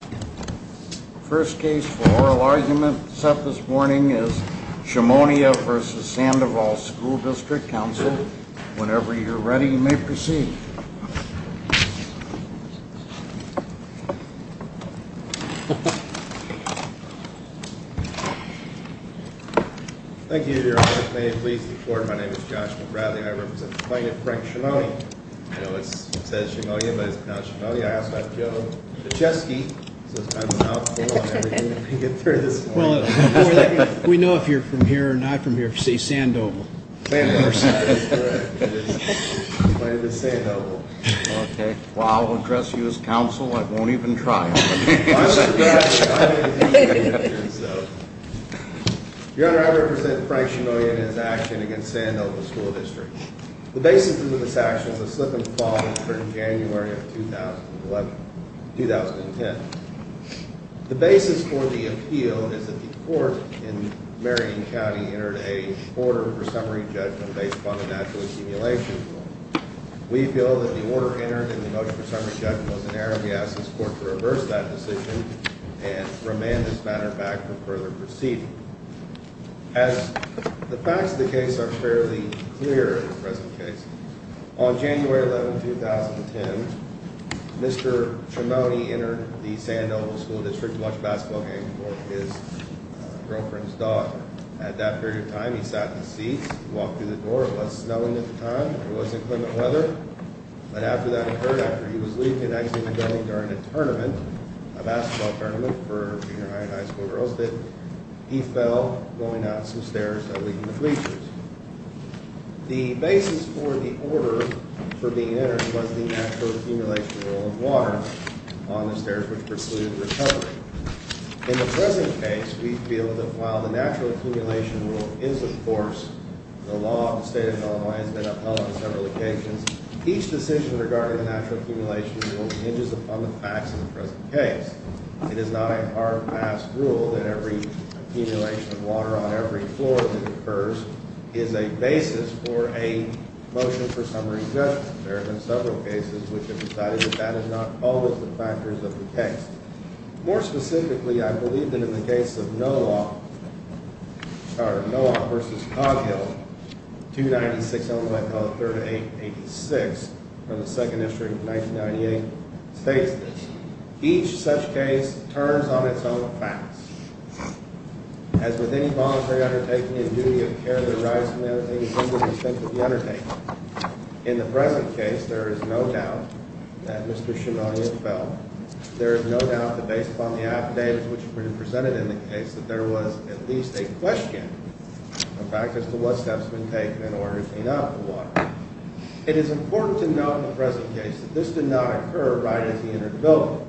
The first case for oral argument set this morning is Chemonia v. Sandoval School District, Council. Whenever you're ready, you may proceed. Thank you, Your Honor. May it please the Court, my name is Joshua Bradley and I represent the plaintiff, Frank Chemonia. I know it says Chemonia, but it's pronounced Chemonia. I also have Joe Pichesky, so it's kind of a mouthful. Well, we know if you're from here or not from here if you say Sandoval. My name is Sandoval. Well, I'll address you as counsel. I won't even try. Your Honor, I represent Frank Chemonia in his action against Sandoval School District. The basis of this action is a slip-and-fall that occurred in January of 2010. The basis for the appeal is that the Court in Marion County entered a order for summary judgment based upon the natural assimilation rule. We feel that the order entered in the motion for summary judgment was an error and we ask this Court to reverse that decision and remand this matter back for further proceeding. The facts of the case are fairly clear in the present case. On January 11, 2010, Mr. Chemonia entered the Sandoval School District to watch a basketball game with his girlfriend's daughter. At that period of time, he sat in his seat, walked through the door. It was snowing at the time. It was inclement weather. But after that occurred, after he was leaving and actually going during a tournament, a basketball tournament for junior high and high school girls, he fell going down some stairs that lead to the bleachers. The basis for the order for being entered was the natural assimilation rule of water on the stairs which precluded recovery. In the present case, we feel that while the natural assimilation rule is in force, the law of the state of Illinois has been upheld on several occasions, each decision regarding the natural assimilation rule hinges upon the facts of the present case. It is not a hard-pass rule that every assimilation of water on every floor that occurs is a basis for a motion for summary judgment. There have been several cases which have decided that that is not always the factors of the case. More specifically, I believe that in the case of Noah v. Coghill, 296-3886 from the 2nd District of 1998 states, each such case turns on its own facts. As with any voluntary undertaking and duty of care that arises from the undertaking, it comes with the expense of the undertaking. In the present case, there is no doubt that Mr. Shimonian fell. There is no doubt that based upon the affidavits which have been presented in the case, that there was at least a question of factors as to what steps have been taken in order to clean up the water. It is important to note in the present case that this did not occur right at the end of the building.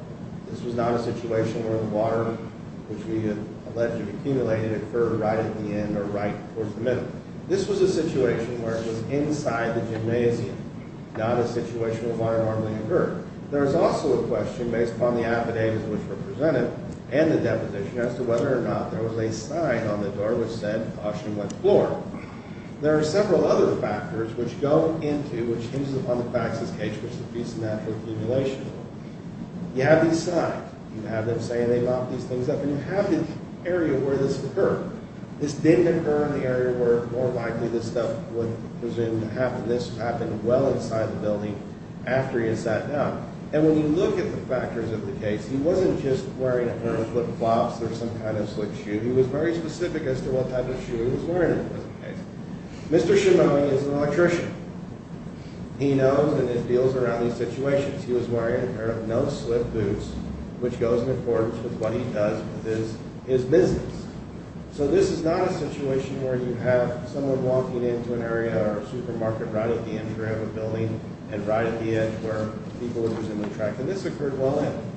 This was not a situation where the water which we had allegedly accumulated occurred right at the end or right towards the middle. This was a situation where it was inside the gymnasium, not a situation where water normally occurred. There is also a question, based upon the affidavits which were presented and the deposition, as to whether or not there was a sign on the door which said, caution wet floor. There are several other factors which go into, which hinges upon the fact that this case was a piece of natural accumulation. You have these signs, you have them saying they mopped these things up, and you have the area where this occurred. This did occur in the area where more likely this stuff would have happened. This happened well inside the building after he had sat down. And when you look at the factors of the case, he wasn't just wearing a pair of flip-flops or some kind of slip shoe. He was very specific as to what type of shoe he was wearing in the present case. Mr. Shimomi is an electrician. He knows and deals around these situations. He was wearing a pair of no-slip boots, which goes in accordance with what he does with his business. So this is not a situation where you have someone walking into an area or a supermarket right at the entry of a building and right at the edge where people are using the track. And this occurred well in.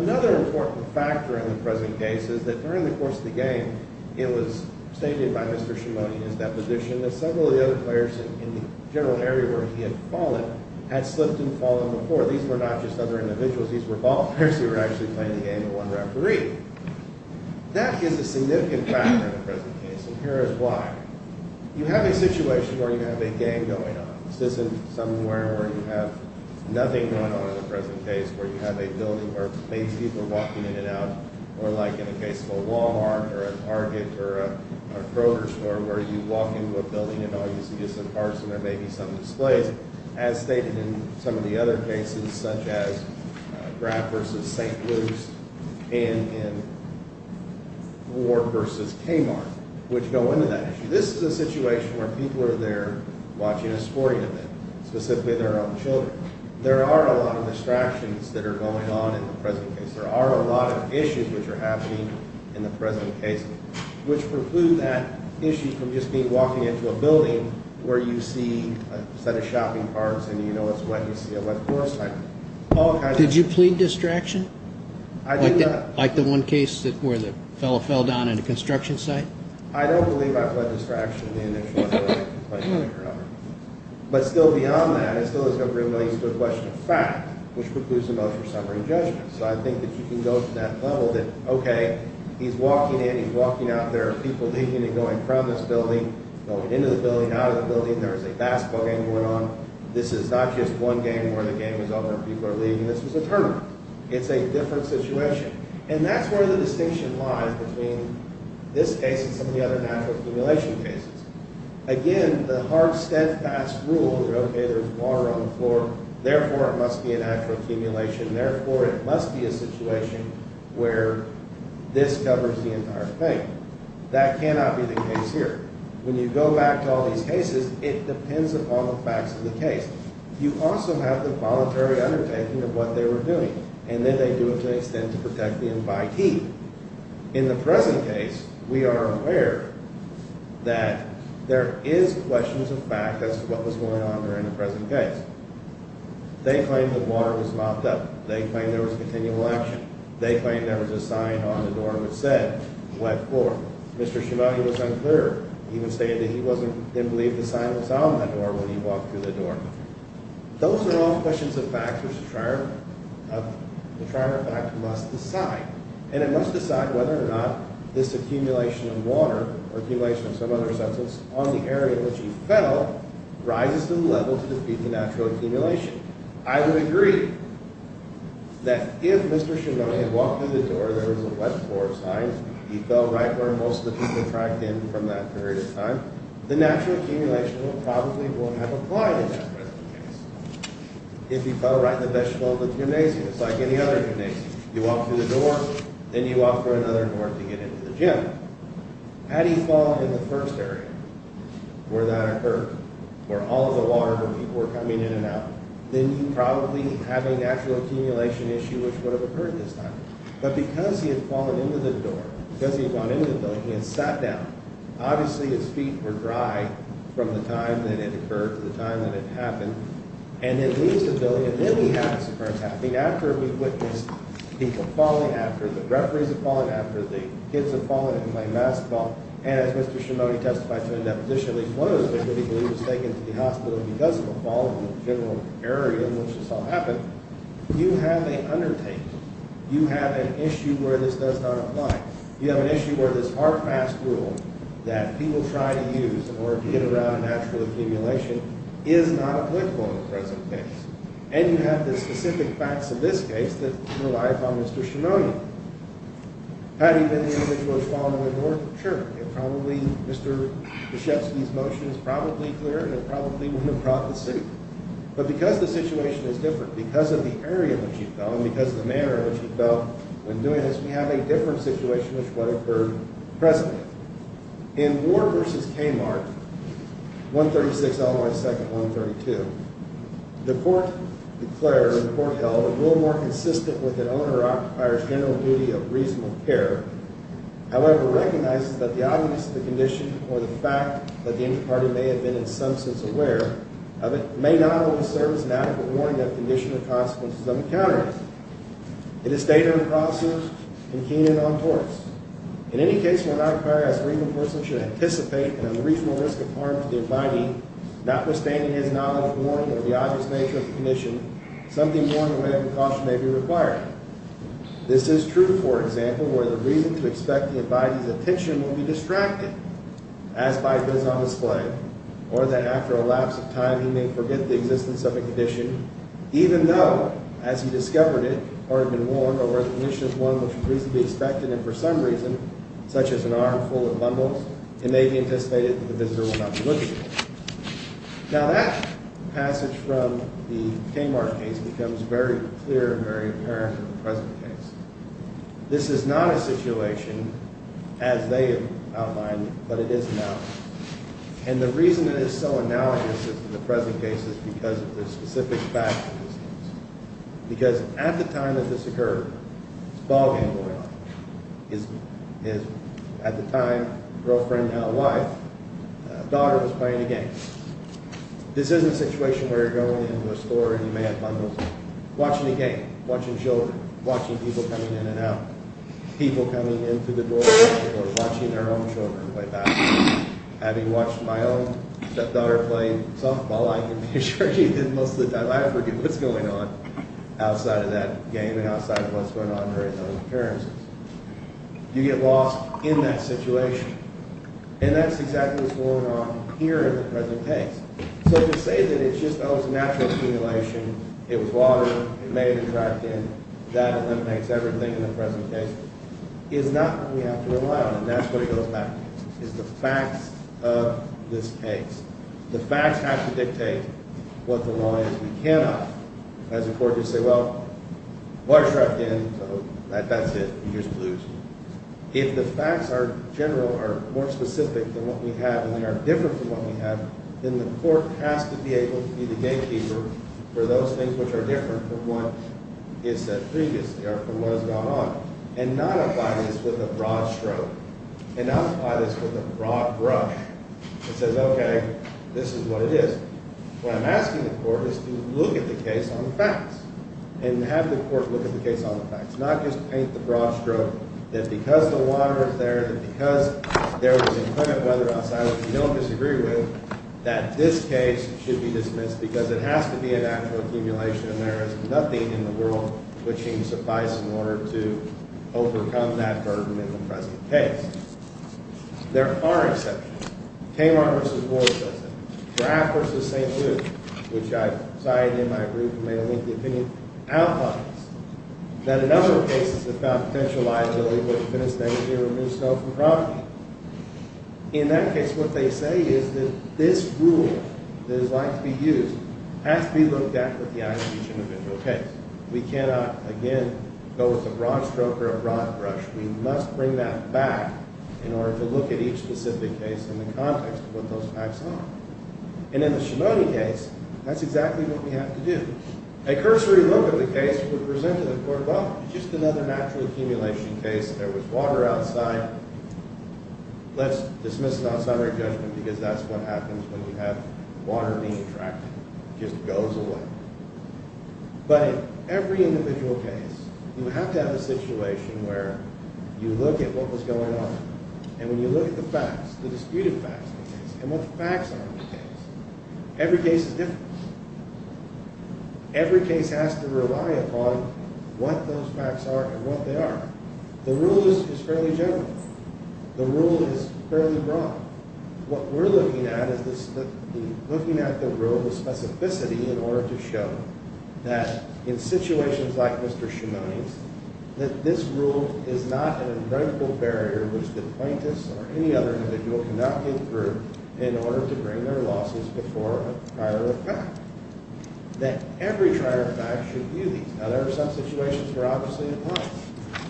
Another important factor in the present case is that during the course of the game, it was stated by Mr. Shimomi in his deposition that several of the other players in the general area where he had fallen had slipped and fallen before. These were not just other individuals. These were ball players who were actually playing the game and one referee. That is a significant factor in the present case, and here is why. You have a situation where you have a game going on. This isn't somewhere where you have nothing going on in the present case, where you have a building where maybe people are walking in and out, or like in the case of a Walmart or a Target or a Kroger store where you walk into a building and all you see is some cars and there may be some displays. As stated in some of the other cases such as Grab versus St. Louis and in Ward versus Kmart, which go into that issue. This is a situation where people are there watching a sporting event, specifically their own children. There are a lot of distractions that are going on in the present case. There are a lot of issues which are happening in the present case, which preclude that issue from just me walking into a building where you see a set of shopping carts and you know it's wet and you see a wet floor sign. Did you plead distraction? I did not. Like the one case where the fellow fell down at a construction site? I don't believe I pled distraction in the initial case. But still beyond that, it still is a question of fact, which precludes a motion for summary and judgment. So I think that you can go to that level that, okay, he's walking in, he's walking out, there are people leaving and going from this building, going into the building, out of the building. There is a basketball game going on. This is not just one game where the game is over and people are leaving. This is a tournament. It's a different situation. And that's where the distinction lies between this case and some of the other natural accumulation cases. Again, the hard, steadfast rule that, okay, there's water on the floor, therefore it must be a natural accumulation, therefore it must be a situation where this covers the entire thing. That cannot be the case here. When you go back to all these cases, it depends upon the facts of the case. You also have the voluntary undertaking of what they were doing, and then they do it to an extent to protect the invitee. In the present case, we are aware that there is questions of fact as to what was going on during the present case. They claim that water was mopped up. They claim there was continual action. They claim there was a sign on the door which said, wet floor. Mr. Shimadi was unclear. He even stated that he didn't believe the sign was on the door when he walked through the door. Those are all questions of fact, which the trier of fact must decide. And it must decide whether or not this accumulation of water or accumulation of some other substance on the area in which he fell rises to the level to defeat the natural accumulation. I would agree that if Mr. Shimadi had walked through the door, there was a wet floor sign, he fell right where most of the people tracked in from that period of time, the natural accumulation probably would have applied in that present case. If he fell right in the vegetable of the gymnasium, it's like any other gymnasium. You walk through the door, then you walk through another door to get into the gym. Had he fallen in the first area where that occurred, where all of the water, where people were coming in and out, then you probably have a natural accumulation issue which would have occurred this time. But because he had fallen into the door, because he had gone into the building, he had sat down. Obviously, his feet were dry from the time that it occurred to the time that it happened. And it leaves the building, and then we have this occurrence happening. After we've witnessed people falling after, the referees have fallen after, the kids have fallen and played basketball, and as Mr. Shimadi testified to in that position, at least one of those that he believed was taken to the hospital because of a fall in the general area in which this all happened, you have an undertaking. You have an issue where this does not apply. You have an issue where this RFAST rule that people try to use in order to get around natural accumulation is not applicable in the present case. And you have the specific facts of this case that rely upon Mr. Shimadi. Had he been the individual who had fallen in the door? Sure. Mr. Krzyzewski's motion is probably clear, and it probably would have brought the suit. But because the situation is different, because of the area in which he fell, and because of the manner in which he fell when doing this, we have a different situation which would have occurred presently. In Ward v. Kmart, 136 Illinois 2nd, 132, the court declared, or the court held, with an owner or occupier's general duty of reasonable care, however, recognizes that the obviousness of the condition, or the fact that the interparty may have been in some sense aware of it, may not always serve as an adequate warning of the condition or consequences of encountering it. It is stated in the process, and Keenan on torts, in any case where an occupier as a reasonable person should anticipate and on the reasonable risk of harm to the abiding, something more than a way of precaution may be required. This is true, for example, where the reason to expect the abiding's attention will be distracted, as by it is on display, or that after a lapse of time he may forget the existence of a condition, even though, as he discovered it, or had been warned, or recognition of one which would reasonably be expected, and for some reason, such as an arm full of bumbles, Now, that passage from the Kmart case becomes very clear and very apparent in the present case. This is not a situation as they have outlined, but it is now. And the reason it is so analogous in the present case is because of the specific fact of existence. Because at the time that this occurred, it's ballgame awareness. At the time, girlfriend, now wife, daughter was playing a game. This isn't a situation where you're going into a store and you may have bumbles. Watching a game, watching children, watching people coming in and out, people coming into the door, people watching their own children play basketball. Having watched my own daughter playing softball, I can be sure she did most of the time. So I forget what's going on outside of that game and outside of what's going on in her and those appearances. You get lost in that situation. And that's exactly what's going on here in the present case. So to say that it's just natural accumulation, it was water, it may have been dragged in, that eliminates everything in the present case, is not what we have to rely on. And that's where it goes back to, is the facts of this case. The facts have to dictate what the law is. We cannot, as a court, just say, well, water's dragged in, so that's it. You just lose. If the facts are general, are more specific than what we have and they are different from what we have, then the court has to be able to be the gamekeeper for those things which are different from what is said previously or from what has gone on, and not apply this with a broad stroke. And not apply this with a broad brush. It says, okay, this is what it is. What I'm asking the court is to look at the case on the facts and have the court look at the case on the facts, not just paint the broad stroke that because the water is there, that because there was inclement weather outside, which we don't disagree with, that this case should be dismissed because it has to be a natural accumulation and there is nothing in the world which seems to suffice in order to overcome that burden in the present case. There are exceptions. Tamar v. Ward says it. Graff v. St. Luke, which I've cited in my brief and may link the opinion, outlines that a number of cases have found potential liability for the defense negativity to remove snow from property. In that case, what they say is that this rule that is likely to be used has to be looked at with the eyes of each individual case. We cannot, again, go with a broad stroke or a broad brush. We must bring that back in order to look at each specific case in the context of what those facts are. And in the Shimony case, that's exactly what we have to do. A cursory look at the case would present to the court, well, it's just another natural accumulation case. There was water outside. Let's dismiss it on summary judgment because that's what happens when you have water being attracted. It just goes away. But in every individual case, you have to have a situation where you look at what was going on. And when you look at the facts, the disputed facts of the case, and what the facts are of the case, every case is different. Every case has to rely upon what those facts are and what they are. The rule is fairly general. The rule is fairly broad. What we're looking at is looking at the rule with specificity in order to show that in situations like Mr. Shimony's, that this rule is not an unbreakable barrier which the plaintiffs or any other individual cannot get through in order to bring their losses before a prior fact, that every prior fact should view these. Now, there are some situations where, obviously, it might.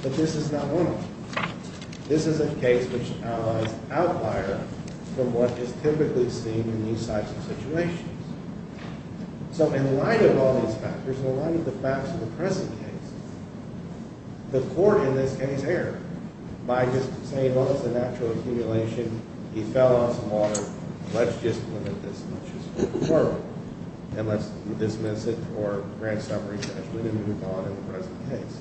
But this is not one of them. This is a case which outlines outlier from what is typically seen in these types of situations. So in light of all these factors, in light of the facts of the present case, the court, in this case, erred by just saying, well, it's a natural accumulation. He fell on some water. Let's just limit this much as a referral. And let's dismiss it for grand summary judgment and move on in the present case.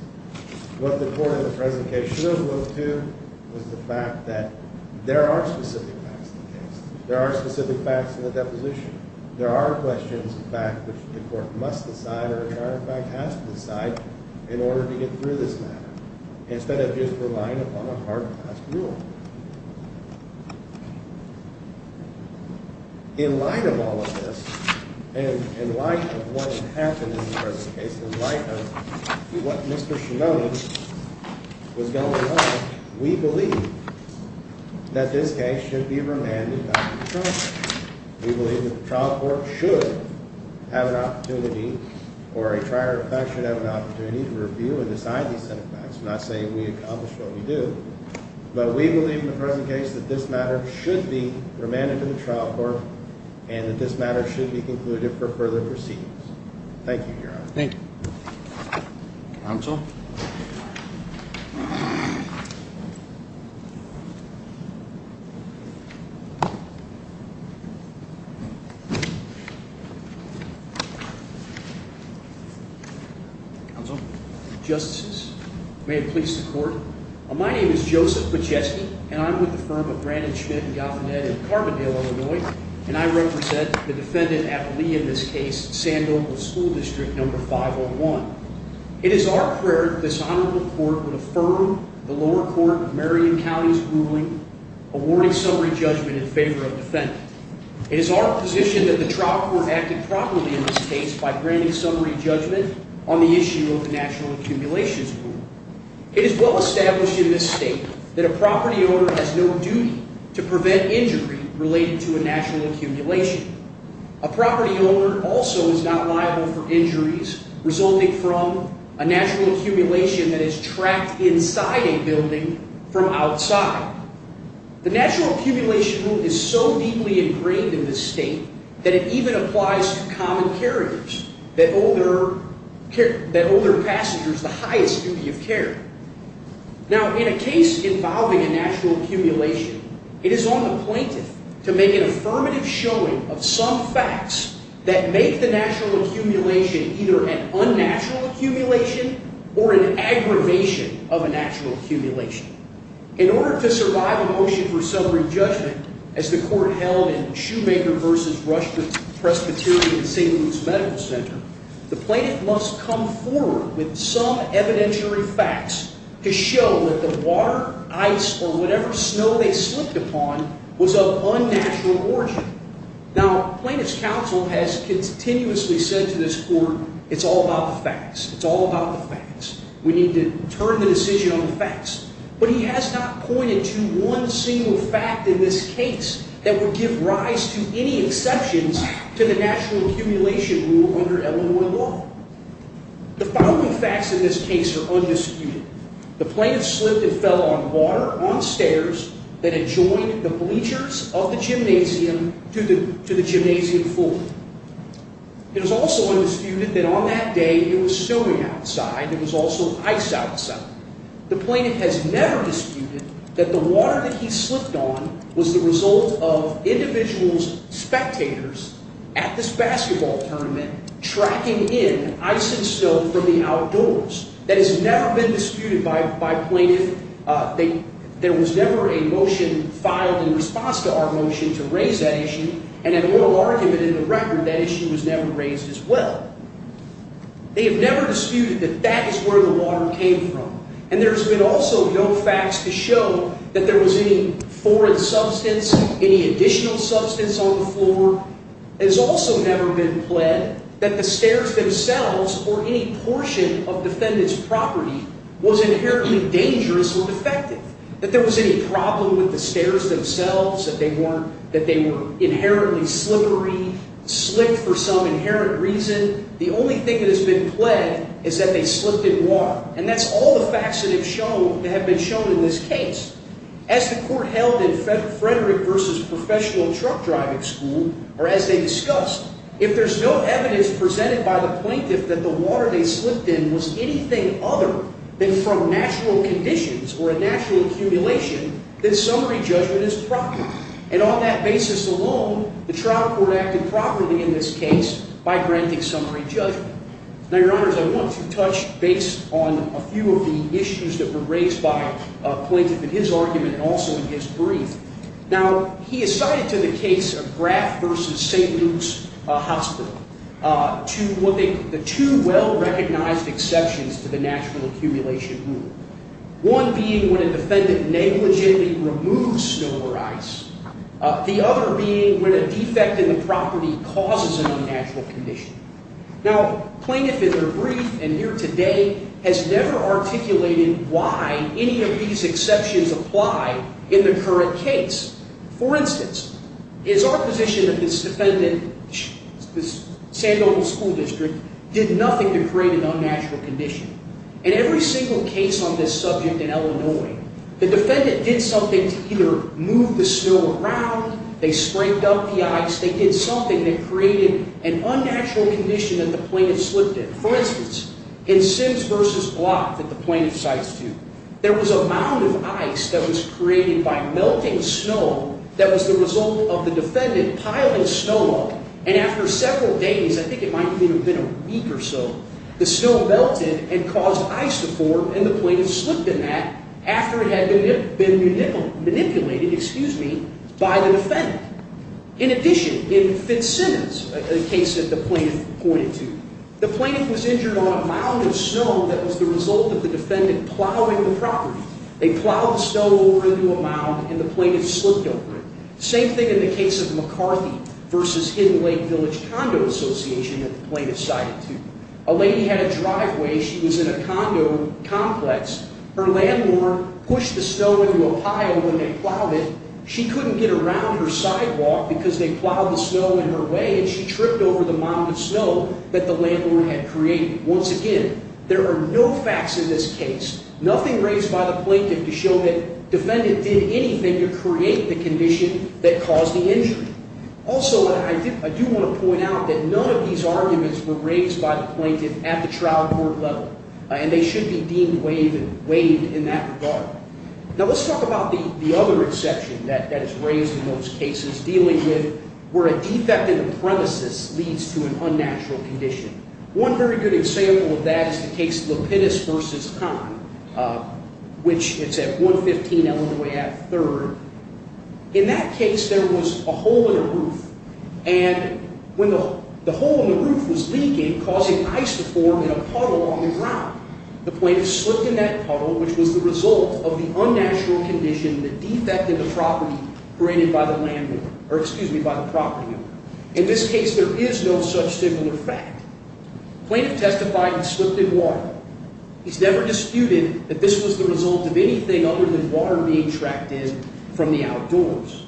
What the court in the present case should have looked to was the fact that there are specific facts in the case. There are specific facts in the deposition. There are questions of fact which the court must decide or a prior fact has to decide in order to get through this matter instead of just relying upon a hard-passed rule. In light of all of this and in light of what had happened in the present case, in light of what Mr. Shinoda was going on, we believe that this case should be remanded back to the trial court. We believe that the trial court should have an opportunity or a prior fact should have an opportunity to review and decide these set of facts. We're not saying we accomplished what we did. But we believe in the present case that this matter should be remanded to the trial court and that this matter should be concluded for further proceedings. Thank you, Your Honor. Thank you. Counsel? Counsel? Justices, may it please the court. My name is Joseph Pacheski, and I'm with the firm of Brandon, Schmidt, and Gaffanetti in Carbondale, Illinois, and I represent the defendant at lieu in this case, Sandoval School District No. 501. It is our prayer that this honorable court would affirm the lower court of Marion County's ruling awarding summary judgment in favor of the defendant. It is our position that the trial court acted properly in this case by granting summary judgment on the issue of the National Accumulations Rule. It is well established in this state that a property owner has no duty to prevent injury related to a natural accumulation. A property owner also is not liable for injuries resulting from a natural accumulation that is tracked inside a building from outside. The Natural Accumulation Rule is so deeply ingrained in this state that it even applies to common carriers that owe their passengers the highest duty of care. Now, in a case involving a natural accumulation, it is on the plaintiff to make an affirmative showing of some facts that make the natural accumulation either an unnatural accumulation or an aggravation of a natural accumulation. In order to survive a motion for summary judgment, as the court held in Shoemaker v. Rushford Presbyterian St. Luke's Medical Center, the plaintiff must come forward with some evidentiary facts to show that the water, ice, or whatever snow they slipped upon was of unnatural origin. Now, plaintiff's counsel has continuously said to this court, it's all about the facts. It's all about the facts. We need to turn the decision on the facts. But he has not pointed to one single fact in this case that would give rise to any exceptions to the Natural Accumulation Rule under Illinois law. The following facts in this case are undisputed. The plaintiff slipped and fell on water on stairs that had joined the bleachers of the gymnasium to the gymnasium floor. It is also undisputed that on that day, it was snowing outside. It was also ice outside. The plaintiff has never disputed that the water that he slipped on was the result of individuals' spectators at this basketball tournament tracking in ice and snow from the outdoors. That has never been disputed by plaintiff. There was never a motion filed in response to our motion to raise that issue. And in oral argument in the record, that issue was never raised as well. They have never disputed that that is where the water came from. And there's been also no facts to show that there was any foreign substance, any additional substance on the floor. It has also never been pled that the stairs themselves or any portion of defendant's property was inherently dangerous or defective. That there was any problem with the stairs themselves, that they were inherently slippery, slick for some inherent reason. The only thing that has been pled is that they slipped in water. And that's all the facts that have been shown in this case. As the court held in Frederick v. Professional Truck Driving School, or as they discussed, if there's no evidence presented by the plaintiff that the water they slipped in was anything other than from natural conditions or a natural accumulation, then summary judgment is proper. And on that basis alone, the trial court acted properly in this case by granting summary judgment. Now, Your Honors, I want to touch base on a few of the issues that were raised by a plaintiff in his argument and also in his brief. Now, he assigned to the case of Graff v. St. Luke's Hospital the two well-recognized exceptions to the natural accumulation rule. One being when a defendant negligently removes snow or ice. The other being when a defect in the property causes a natural condition. Now, plaintiff in their brief and here today has never articulated why any of these exceptions apply in the current case. For instance, it's our position that this defendant, this San Domingo School District, did nothing to create an unnatural condition. In every single case on this subject in Illinois, the defendant did something to either move the snow around, they sprinkled up the ice, they did something that created an unnatural condition that the plaintiff slipped in. For instance, in Sims v. Block that the plaintiff cites here, there was a mound of ice that was created by melting snow that was the result of the defendant piling snow up. And after several days, I think it might even have been a week or so, the snow melted and caused ice to form and the plaintiff slipped in that after it had been manipulated by the defendant. In addition, in Fitzsimmons, a case that the plaintiff pointed to, the plaintiff was injured on a mound of snow that was the result of the defendant plowing the property. They plowed the snow over into a mound and the plaintiff slipped over it. Same thing in the case of McCarthy v. Hidden Lake Village Condo Association that the plaintiff cited to. A lady had a driveway, she was in a condo complex. Her landlord pushed the snow into a pile when they plowed it. She couldn't get around her sidewalk because they plowed the snow in her way and she tripped over the mound of snow that the landlord had created. Once again, there are no facts in this case, nothing raised by the plaintiff to show that the defendant did anything to create the condition that caused the injury. Also, I do want to point out that none of these arguments were raised by the plaintiff at the trial court level and they should be deemed weighed in that regard. Now, let's talk about the other exception that is raised in those cases dealing with where a defect in a premises leads to an unnatural condition. One very good example of that is the case of Lapidus v. Kahn, which is at 115 Illinois Ave. 3rd. In that case, there was a hole in the roof and when the hole in the roof was leaking, causing ice to form in a puddle on the ground, the plaintiff slipped in that puddle, which was the result of the unnatural condition that defected the property created by the landlord, or excuse me, by the property owner. In this case, there is no such similar fact. The plaintiff testified and slipped in water. He's never disputed that this was the result of anything other than water being tracked in from the outdoors.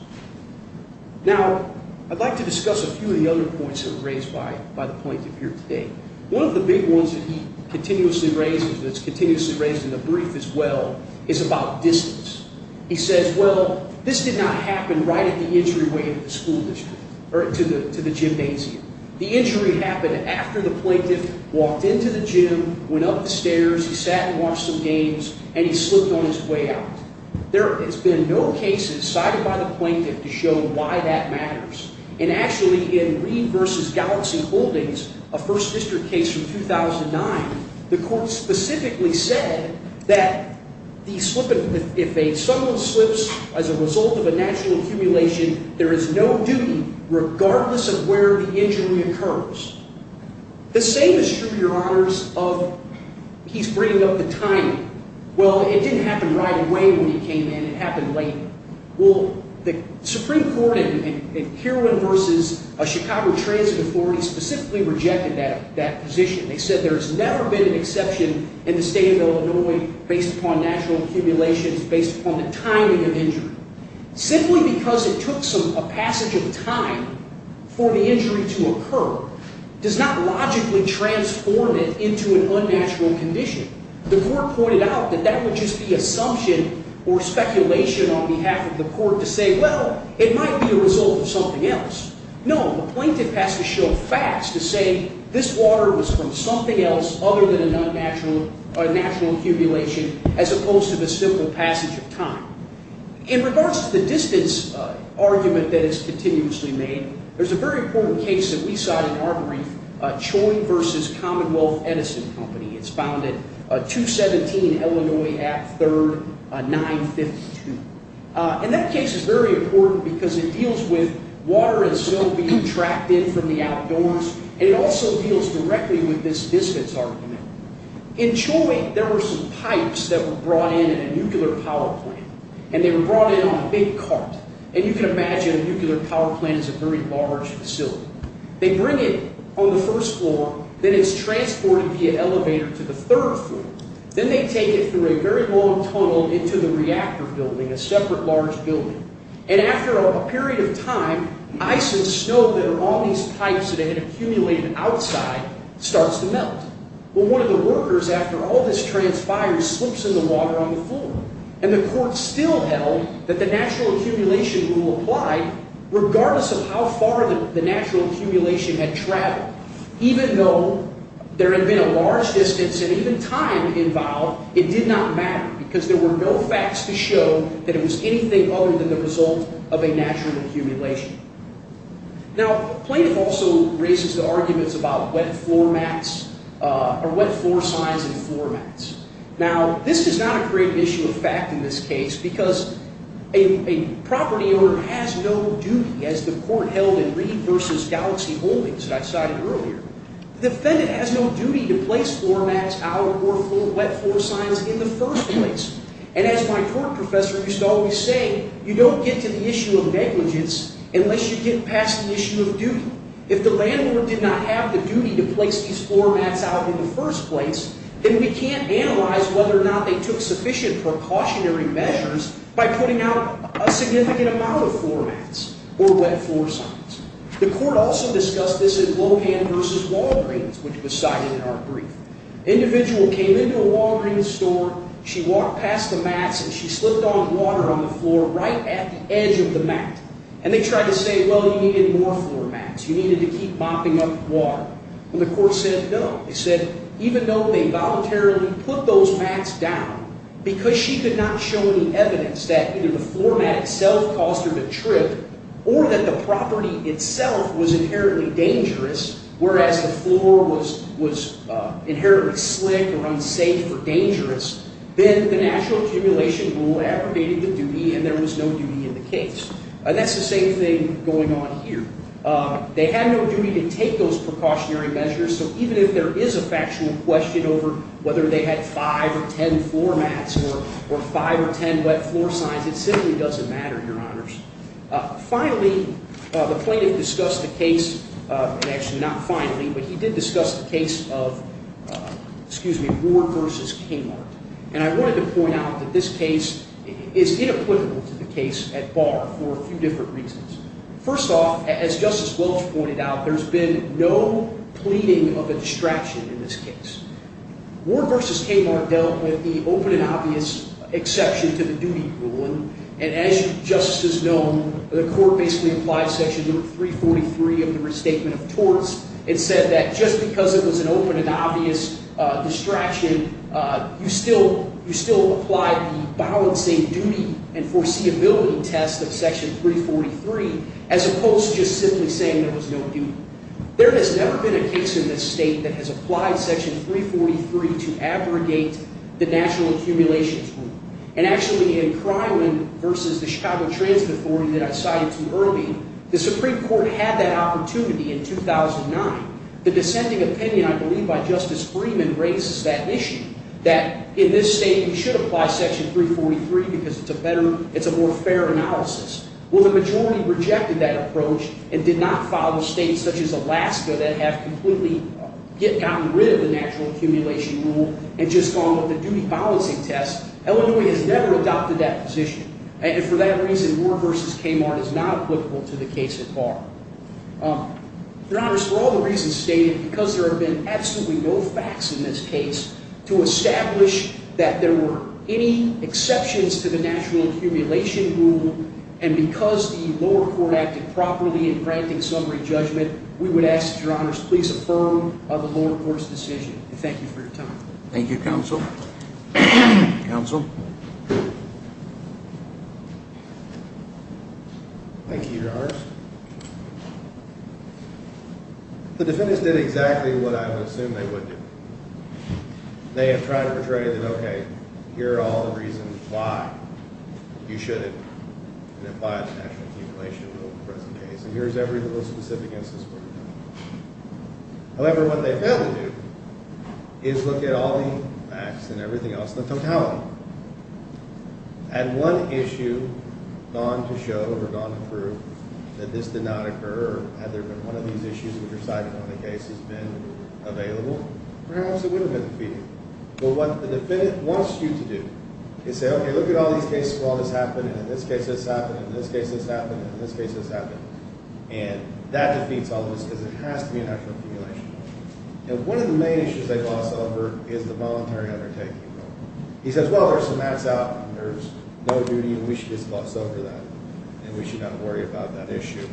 Now, I'd like to discuss a few of the other points that were raised by the plaintiff here today. One of the big ones that he continuously raises, and it's continuously raised in the brief as well, is about distance. He says, well, this did not happen right at the entryway of the school district, or to the gymnasium. The injury happened after the plaintiff walked into the gym, went up the stairs, he sat and watched some games, and he slipped on his way out. There has been no cases cited by the plaintiff to show why that matters. And actually, in Reed v. Galaxie Holdings, a First District case from 2009, the court specifically said that if a someone slips as a result of a natural accumulation, there is no duty regardless of where the injury occurs. The same is true, Your Honors, of he's bringing up the timing. Well, it didn't happen right away when he came in. It happened later. Well, the Supreme Court in Heroin v. Chicago Transit Authority specifically rejected that position. They said there has never been an exception in the state of Illinois based upon natural accumulation, based upon the timing of injury. Simply because it took a passage of time for the injury to occur does not logically transform it into an unnatural condition. The court pointed out that that would just be assumption or speculation on behalf of the court to say, well, it might be a result of something else. No, the plaintiff has to show facts to say this water was from something else other than a natural accumulation as opposed to the simple passage of time. In regards to the distance argument that is continuously made, there's a very important case that we cite in our brief, Choi v. Commonwealth Edison Company. It's founded 217 Illinois Ave. 3rd, 952. And that case is very important because it deals with water and soil being tracked in from the outdoors, and it also deals directly with this distance argument. In Choi, there were some pipes that were brought in in a nuclear power plant. And they were brought in on a big cart. And you can imagine a nuclear power plant is a very large facility. They bring it on the first floor, then it's transported via elevator to the third floor. Then they take it through a very long tunnel into the reactor building, a separate large building. And after a period of time, ice and snow that are on these pipes that had accumulated outside starts to melt. Well, one of the workers, after all this transpires, slips in the water on the floor. And the court still held that the natural accumulation rule applied regardless of how far the natural accumulation had traveled. Even though there had been a large distance and even time involved, it did not matter because there were no facts to show that it was anything other than the result of a natural accumulation. Now, plaintiff also raises the arguments about wet floor mats or wet floor signs and floor mats. Now, this is not a great issue of fact in this case because a property owner has no duty, as the court held in Reed v. Galaxy Holdings that I cited earlier. The defendant has no duty to place floor mats out or wet floor signs in the first place. And as my court professor used to always say, you don't get to the issue of negligence unless you get past the issue of duty. If the landlord did not have the duty to place these floor mats out in the first place, then we can't analyze whether or not they took sufficient precautionary measures by putting out a significant amount of floor mats or wet floor signs. The court also discussed this in Lohan v. Walgreens, which was cited in our brief. An individual came into a Walgreens store. She walked past the mats, and she slipped on water on the floor right at the edge of the mat. And they tried to say, well, you needed more floor mats. You needed to keep mopping up water. And the court said no. It said even though they voluntarily put those mats down because she could not show any evidence that either the floor mat itself caused her to trip or that the property itself was inherently dangerous, whereas the floor was inherently slick or unsafe or dangerous, then the National Accumulation Rule aggravated the duty, and there was no duty in the case. And that's the same thing going on here. They had no duty to take those precautionary measures. So even if there is a factual question over whether they had five or ten floor mats or five or ten wet floor signs, it simply doesn't matter, Your Honors. Finally, the plaintiff discussed the case, and actually not finally, but he did discuss the case of Ward v. Kingmark. And I wanted to point out that this case is inequitable to the case at bar for a few different reasons. First off, as Justice Welch pointed out, there's been no pleading of a distraction in this case. Ward v. Kingmark dealt with the open and obvious exception to the duty ruling. And as Justice has known, the court basically applied Section 343 of the Restatement of Torts and said that just because it was an open and obvious distraction, you still applied the balancing duty and foreseeability test of Section 343 as opposed to just simply saying there was no duty. There has never been a case in this state that has applied Section 343 to abrogate the National Accumulations Rule. And actually in Krylin v. the Chicago Transit Authority that I cited too early, the Supreme Court had that opportunity in 2009. The dissenting opinion, I believe, by Justice Freeman raises that issue, that in this state we should apply Section 343 because it's a better, it's a more fair analysis. Well, the majority rejected that approach and did not follow states such as Alaska that have completely gotten rid of the Natural Accumulation Rule and just gone with the duty balancing test. Illinois has never adopted that position. And for that reason, Ward v. Kingmark is not applicable to the case at bar. Your Honor, for all the reasons stated, because there have been absolutely no facts in this case to establish that there were any exceptions to the Natural Accumulation Rule, and because the lower court acted properly in granting summary judgment, we would ask, Your Honor, to please affirm the lower court's decision. Thank you for your time. Thank you, Counsel. Counsel? Thank you, Your Honor. The defendants did exactly what I would assume they would do. They have tried to portray that, okay, here are all the reasons why you shouldn't apply the Natural Accumulation Rule in the present case, and here's every little specific instance where we've done that. However, what they failed to do is look at all the facts and everything else, the totality. Had one issue gone to show or gone to prove that this did not occur, or had there been one of these issues which are cited on the case has been available, perhaps it would have been defeated. But what the defendant wants you to do is say, okay, look at all these cases where all this happened, and in this case this happened, and in this case this happened, and in this case this happened, and that defeats all of this because it has to be a Natural Accumulation Rule. And one of the main issues they gloss over is the voluntary undertaking rule. He says, well, there's some acts out, and there's no duty, and we should just gloss over that, and we should not worry about that issue.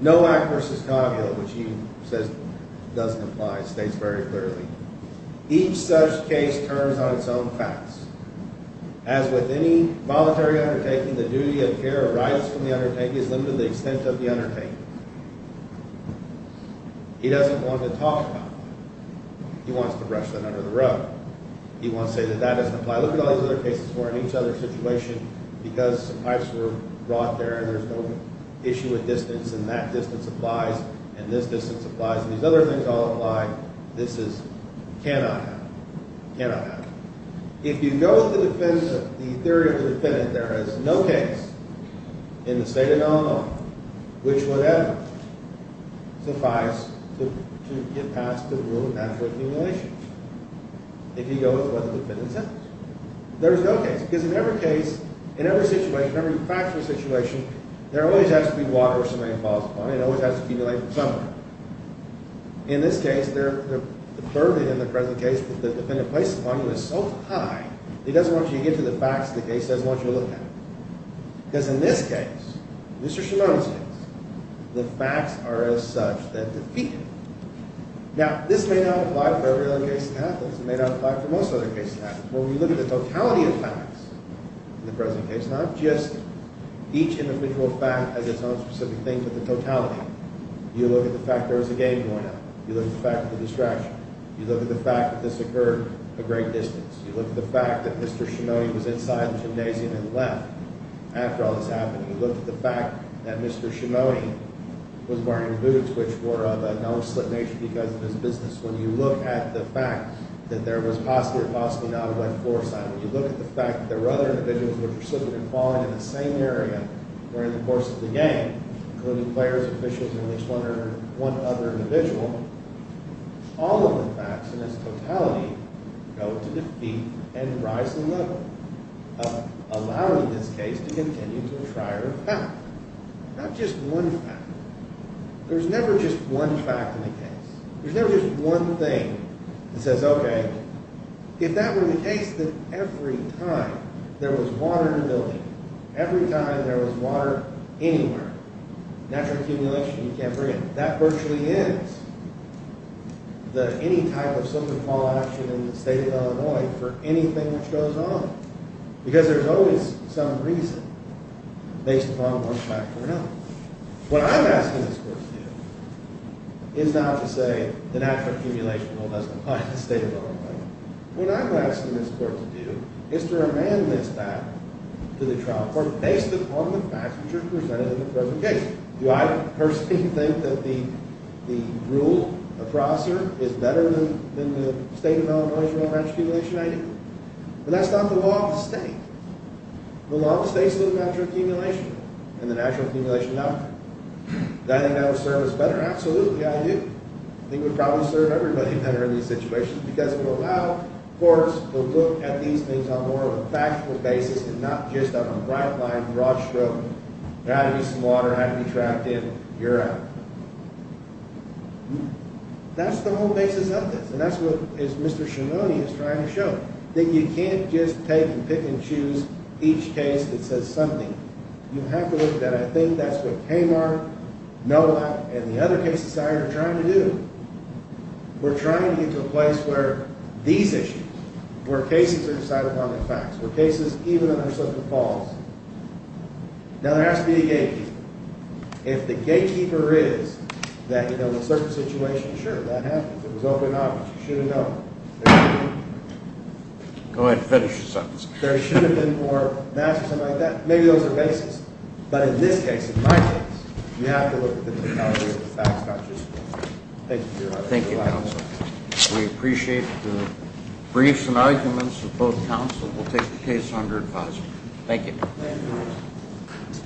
No act versus cognitive, which he says doesn't apply, states very clearly. Each such case turns on its own facts. As with any voluntary undertaking, the duty of care or rights from the undertaking is limited to the extent of the undertaking. He doesn't want to talk about that. He wants to brush that under the rug. He wants to say that that doesn't apply. I look at all these other cases where in each other's situation, because some pipes were brought there, and there's no issue with distance, and that distance applies, and this distance applies, and these other things all apply. This cannot happen. It cannot happen. If you go with the theory of the defendant, there is no case in the state of Illinois which would ever suffice to get past the rule of Natural Accumulation. If you go with what the defendant says. There is no case, because in every case, in every situation, in every factual situation, there always has to be water or somebody falls upon it. It always has to accumulate somewhere. In this case, the burden in the present case that the defendant placed upon him is so high, he doesn't want you to get to the facts of the case, he doesn't want you to look at them. Because in this case, Mr. Shimona's case, the facts are as such that defeat him. Now, this may not apply for every other case in Athens. It may not apply for most other cases in Athens. When we look at the totality of facts in the present case, not just each individual fact as its own specific thing, but the totality. You look at the fact there was a game going on. You look at the fact of the distraction. You look at the fact that this occurred a great distance. You look at the fact that Mr. Shimona was inside the gymnasium and left after all this happened. You look at the fact that Mr. Shimona was wearing boots which were of a no-slip nature because of his business. When you look at the fact that there was possibly or possibly not a wet floor sign. When you look at the fact that there were other individuals who were precipitantly falling in the same area during the course of the game, including players, officials, and at least one other individual. All of the facts in its totality go to defeat and rise to the level of allowing this case to continue to try to back. Not just one fact. There's never just one fact in the case. There's never just one thing that says, okay, if that were the case that every time there was water in a building, every time there was water anywhere, natural accumulation, you can't bring it in. That virtually ends any type of civil law action in the state of Illinois for anything that goes on. Because there's always some reason based upon one fact or another. What I'm asking this court to do is not to say that natural accumulation doesn't apply in the state of Illinois. What I'm asking this court to do is to remand this back to the trial court based upon the facts which are presented in the presentation. Do I personally think that the rule across here is better than the state of Illinois' rule of natural accumulation? I do. But that's not the law of the state. The law of the state is natural accumulation and the natural accumulation doctrine. Do I think that would serve us better? Absolutely, I do. I think it would probably serve everybody better in these situations because it would allow courts to look at these things on more of a factual basis and not just on a bright line, broad stroke. There had to be some water, it had to be trapped in, you're out. That's the whole basis of this and that's what Mr. Ciannone is trying to show. That you can't just take and pick and choose each case that says something. You have to look at that. I think that's what Kamar, Noah, and the other cases I heard are trying to do. We're trying to get to a place where these issues, where cases are decided on the facts, where cases even under certain falls. Now, there has to be a gatekeeper. If the gatekeeper is that, you know, in a certain situation, sure, that happens. It was open obvious. You should have known. Go ahead and finish your sentence. There should have been more mass or something like that. Maybe those are bases. But in this case, in my case, you have to look at the facts, not just the facts. Thank you, Your Honor. Thank you, counsel. We appreciate the briefs and arguments of both counsel. We'll take the case under advisory. Thank you.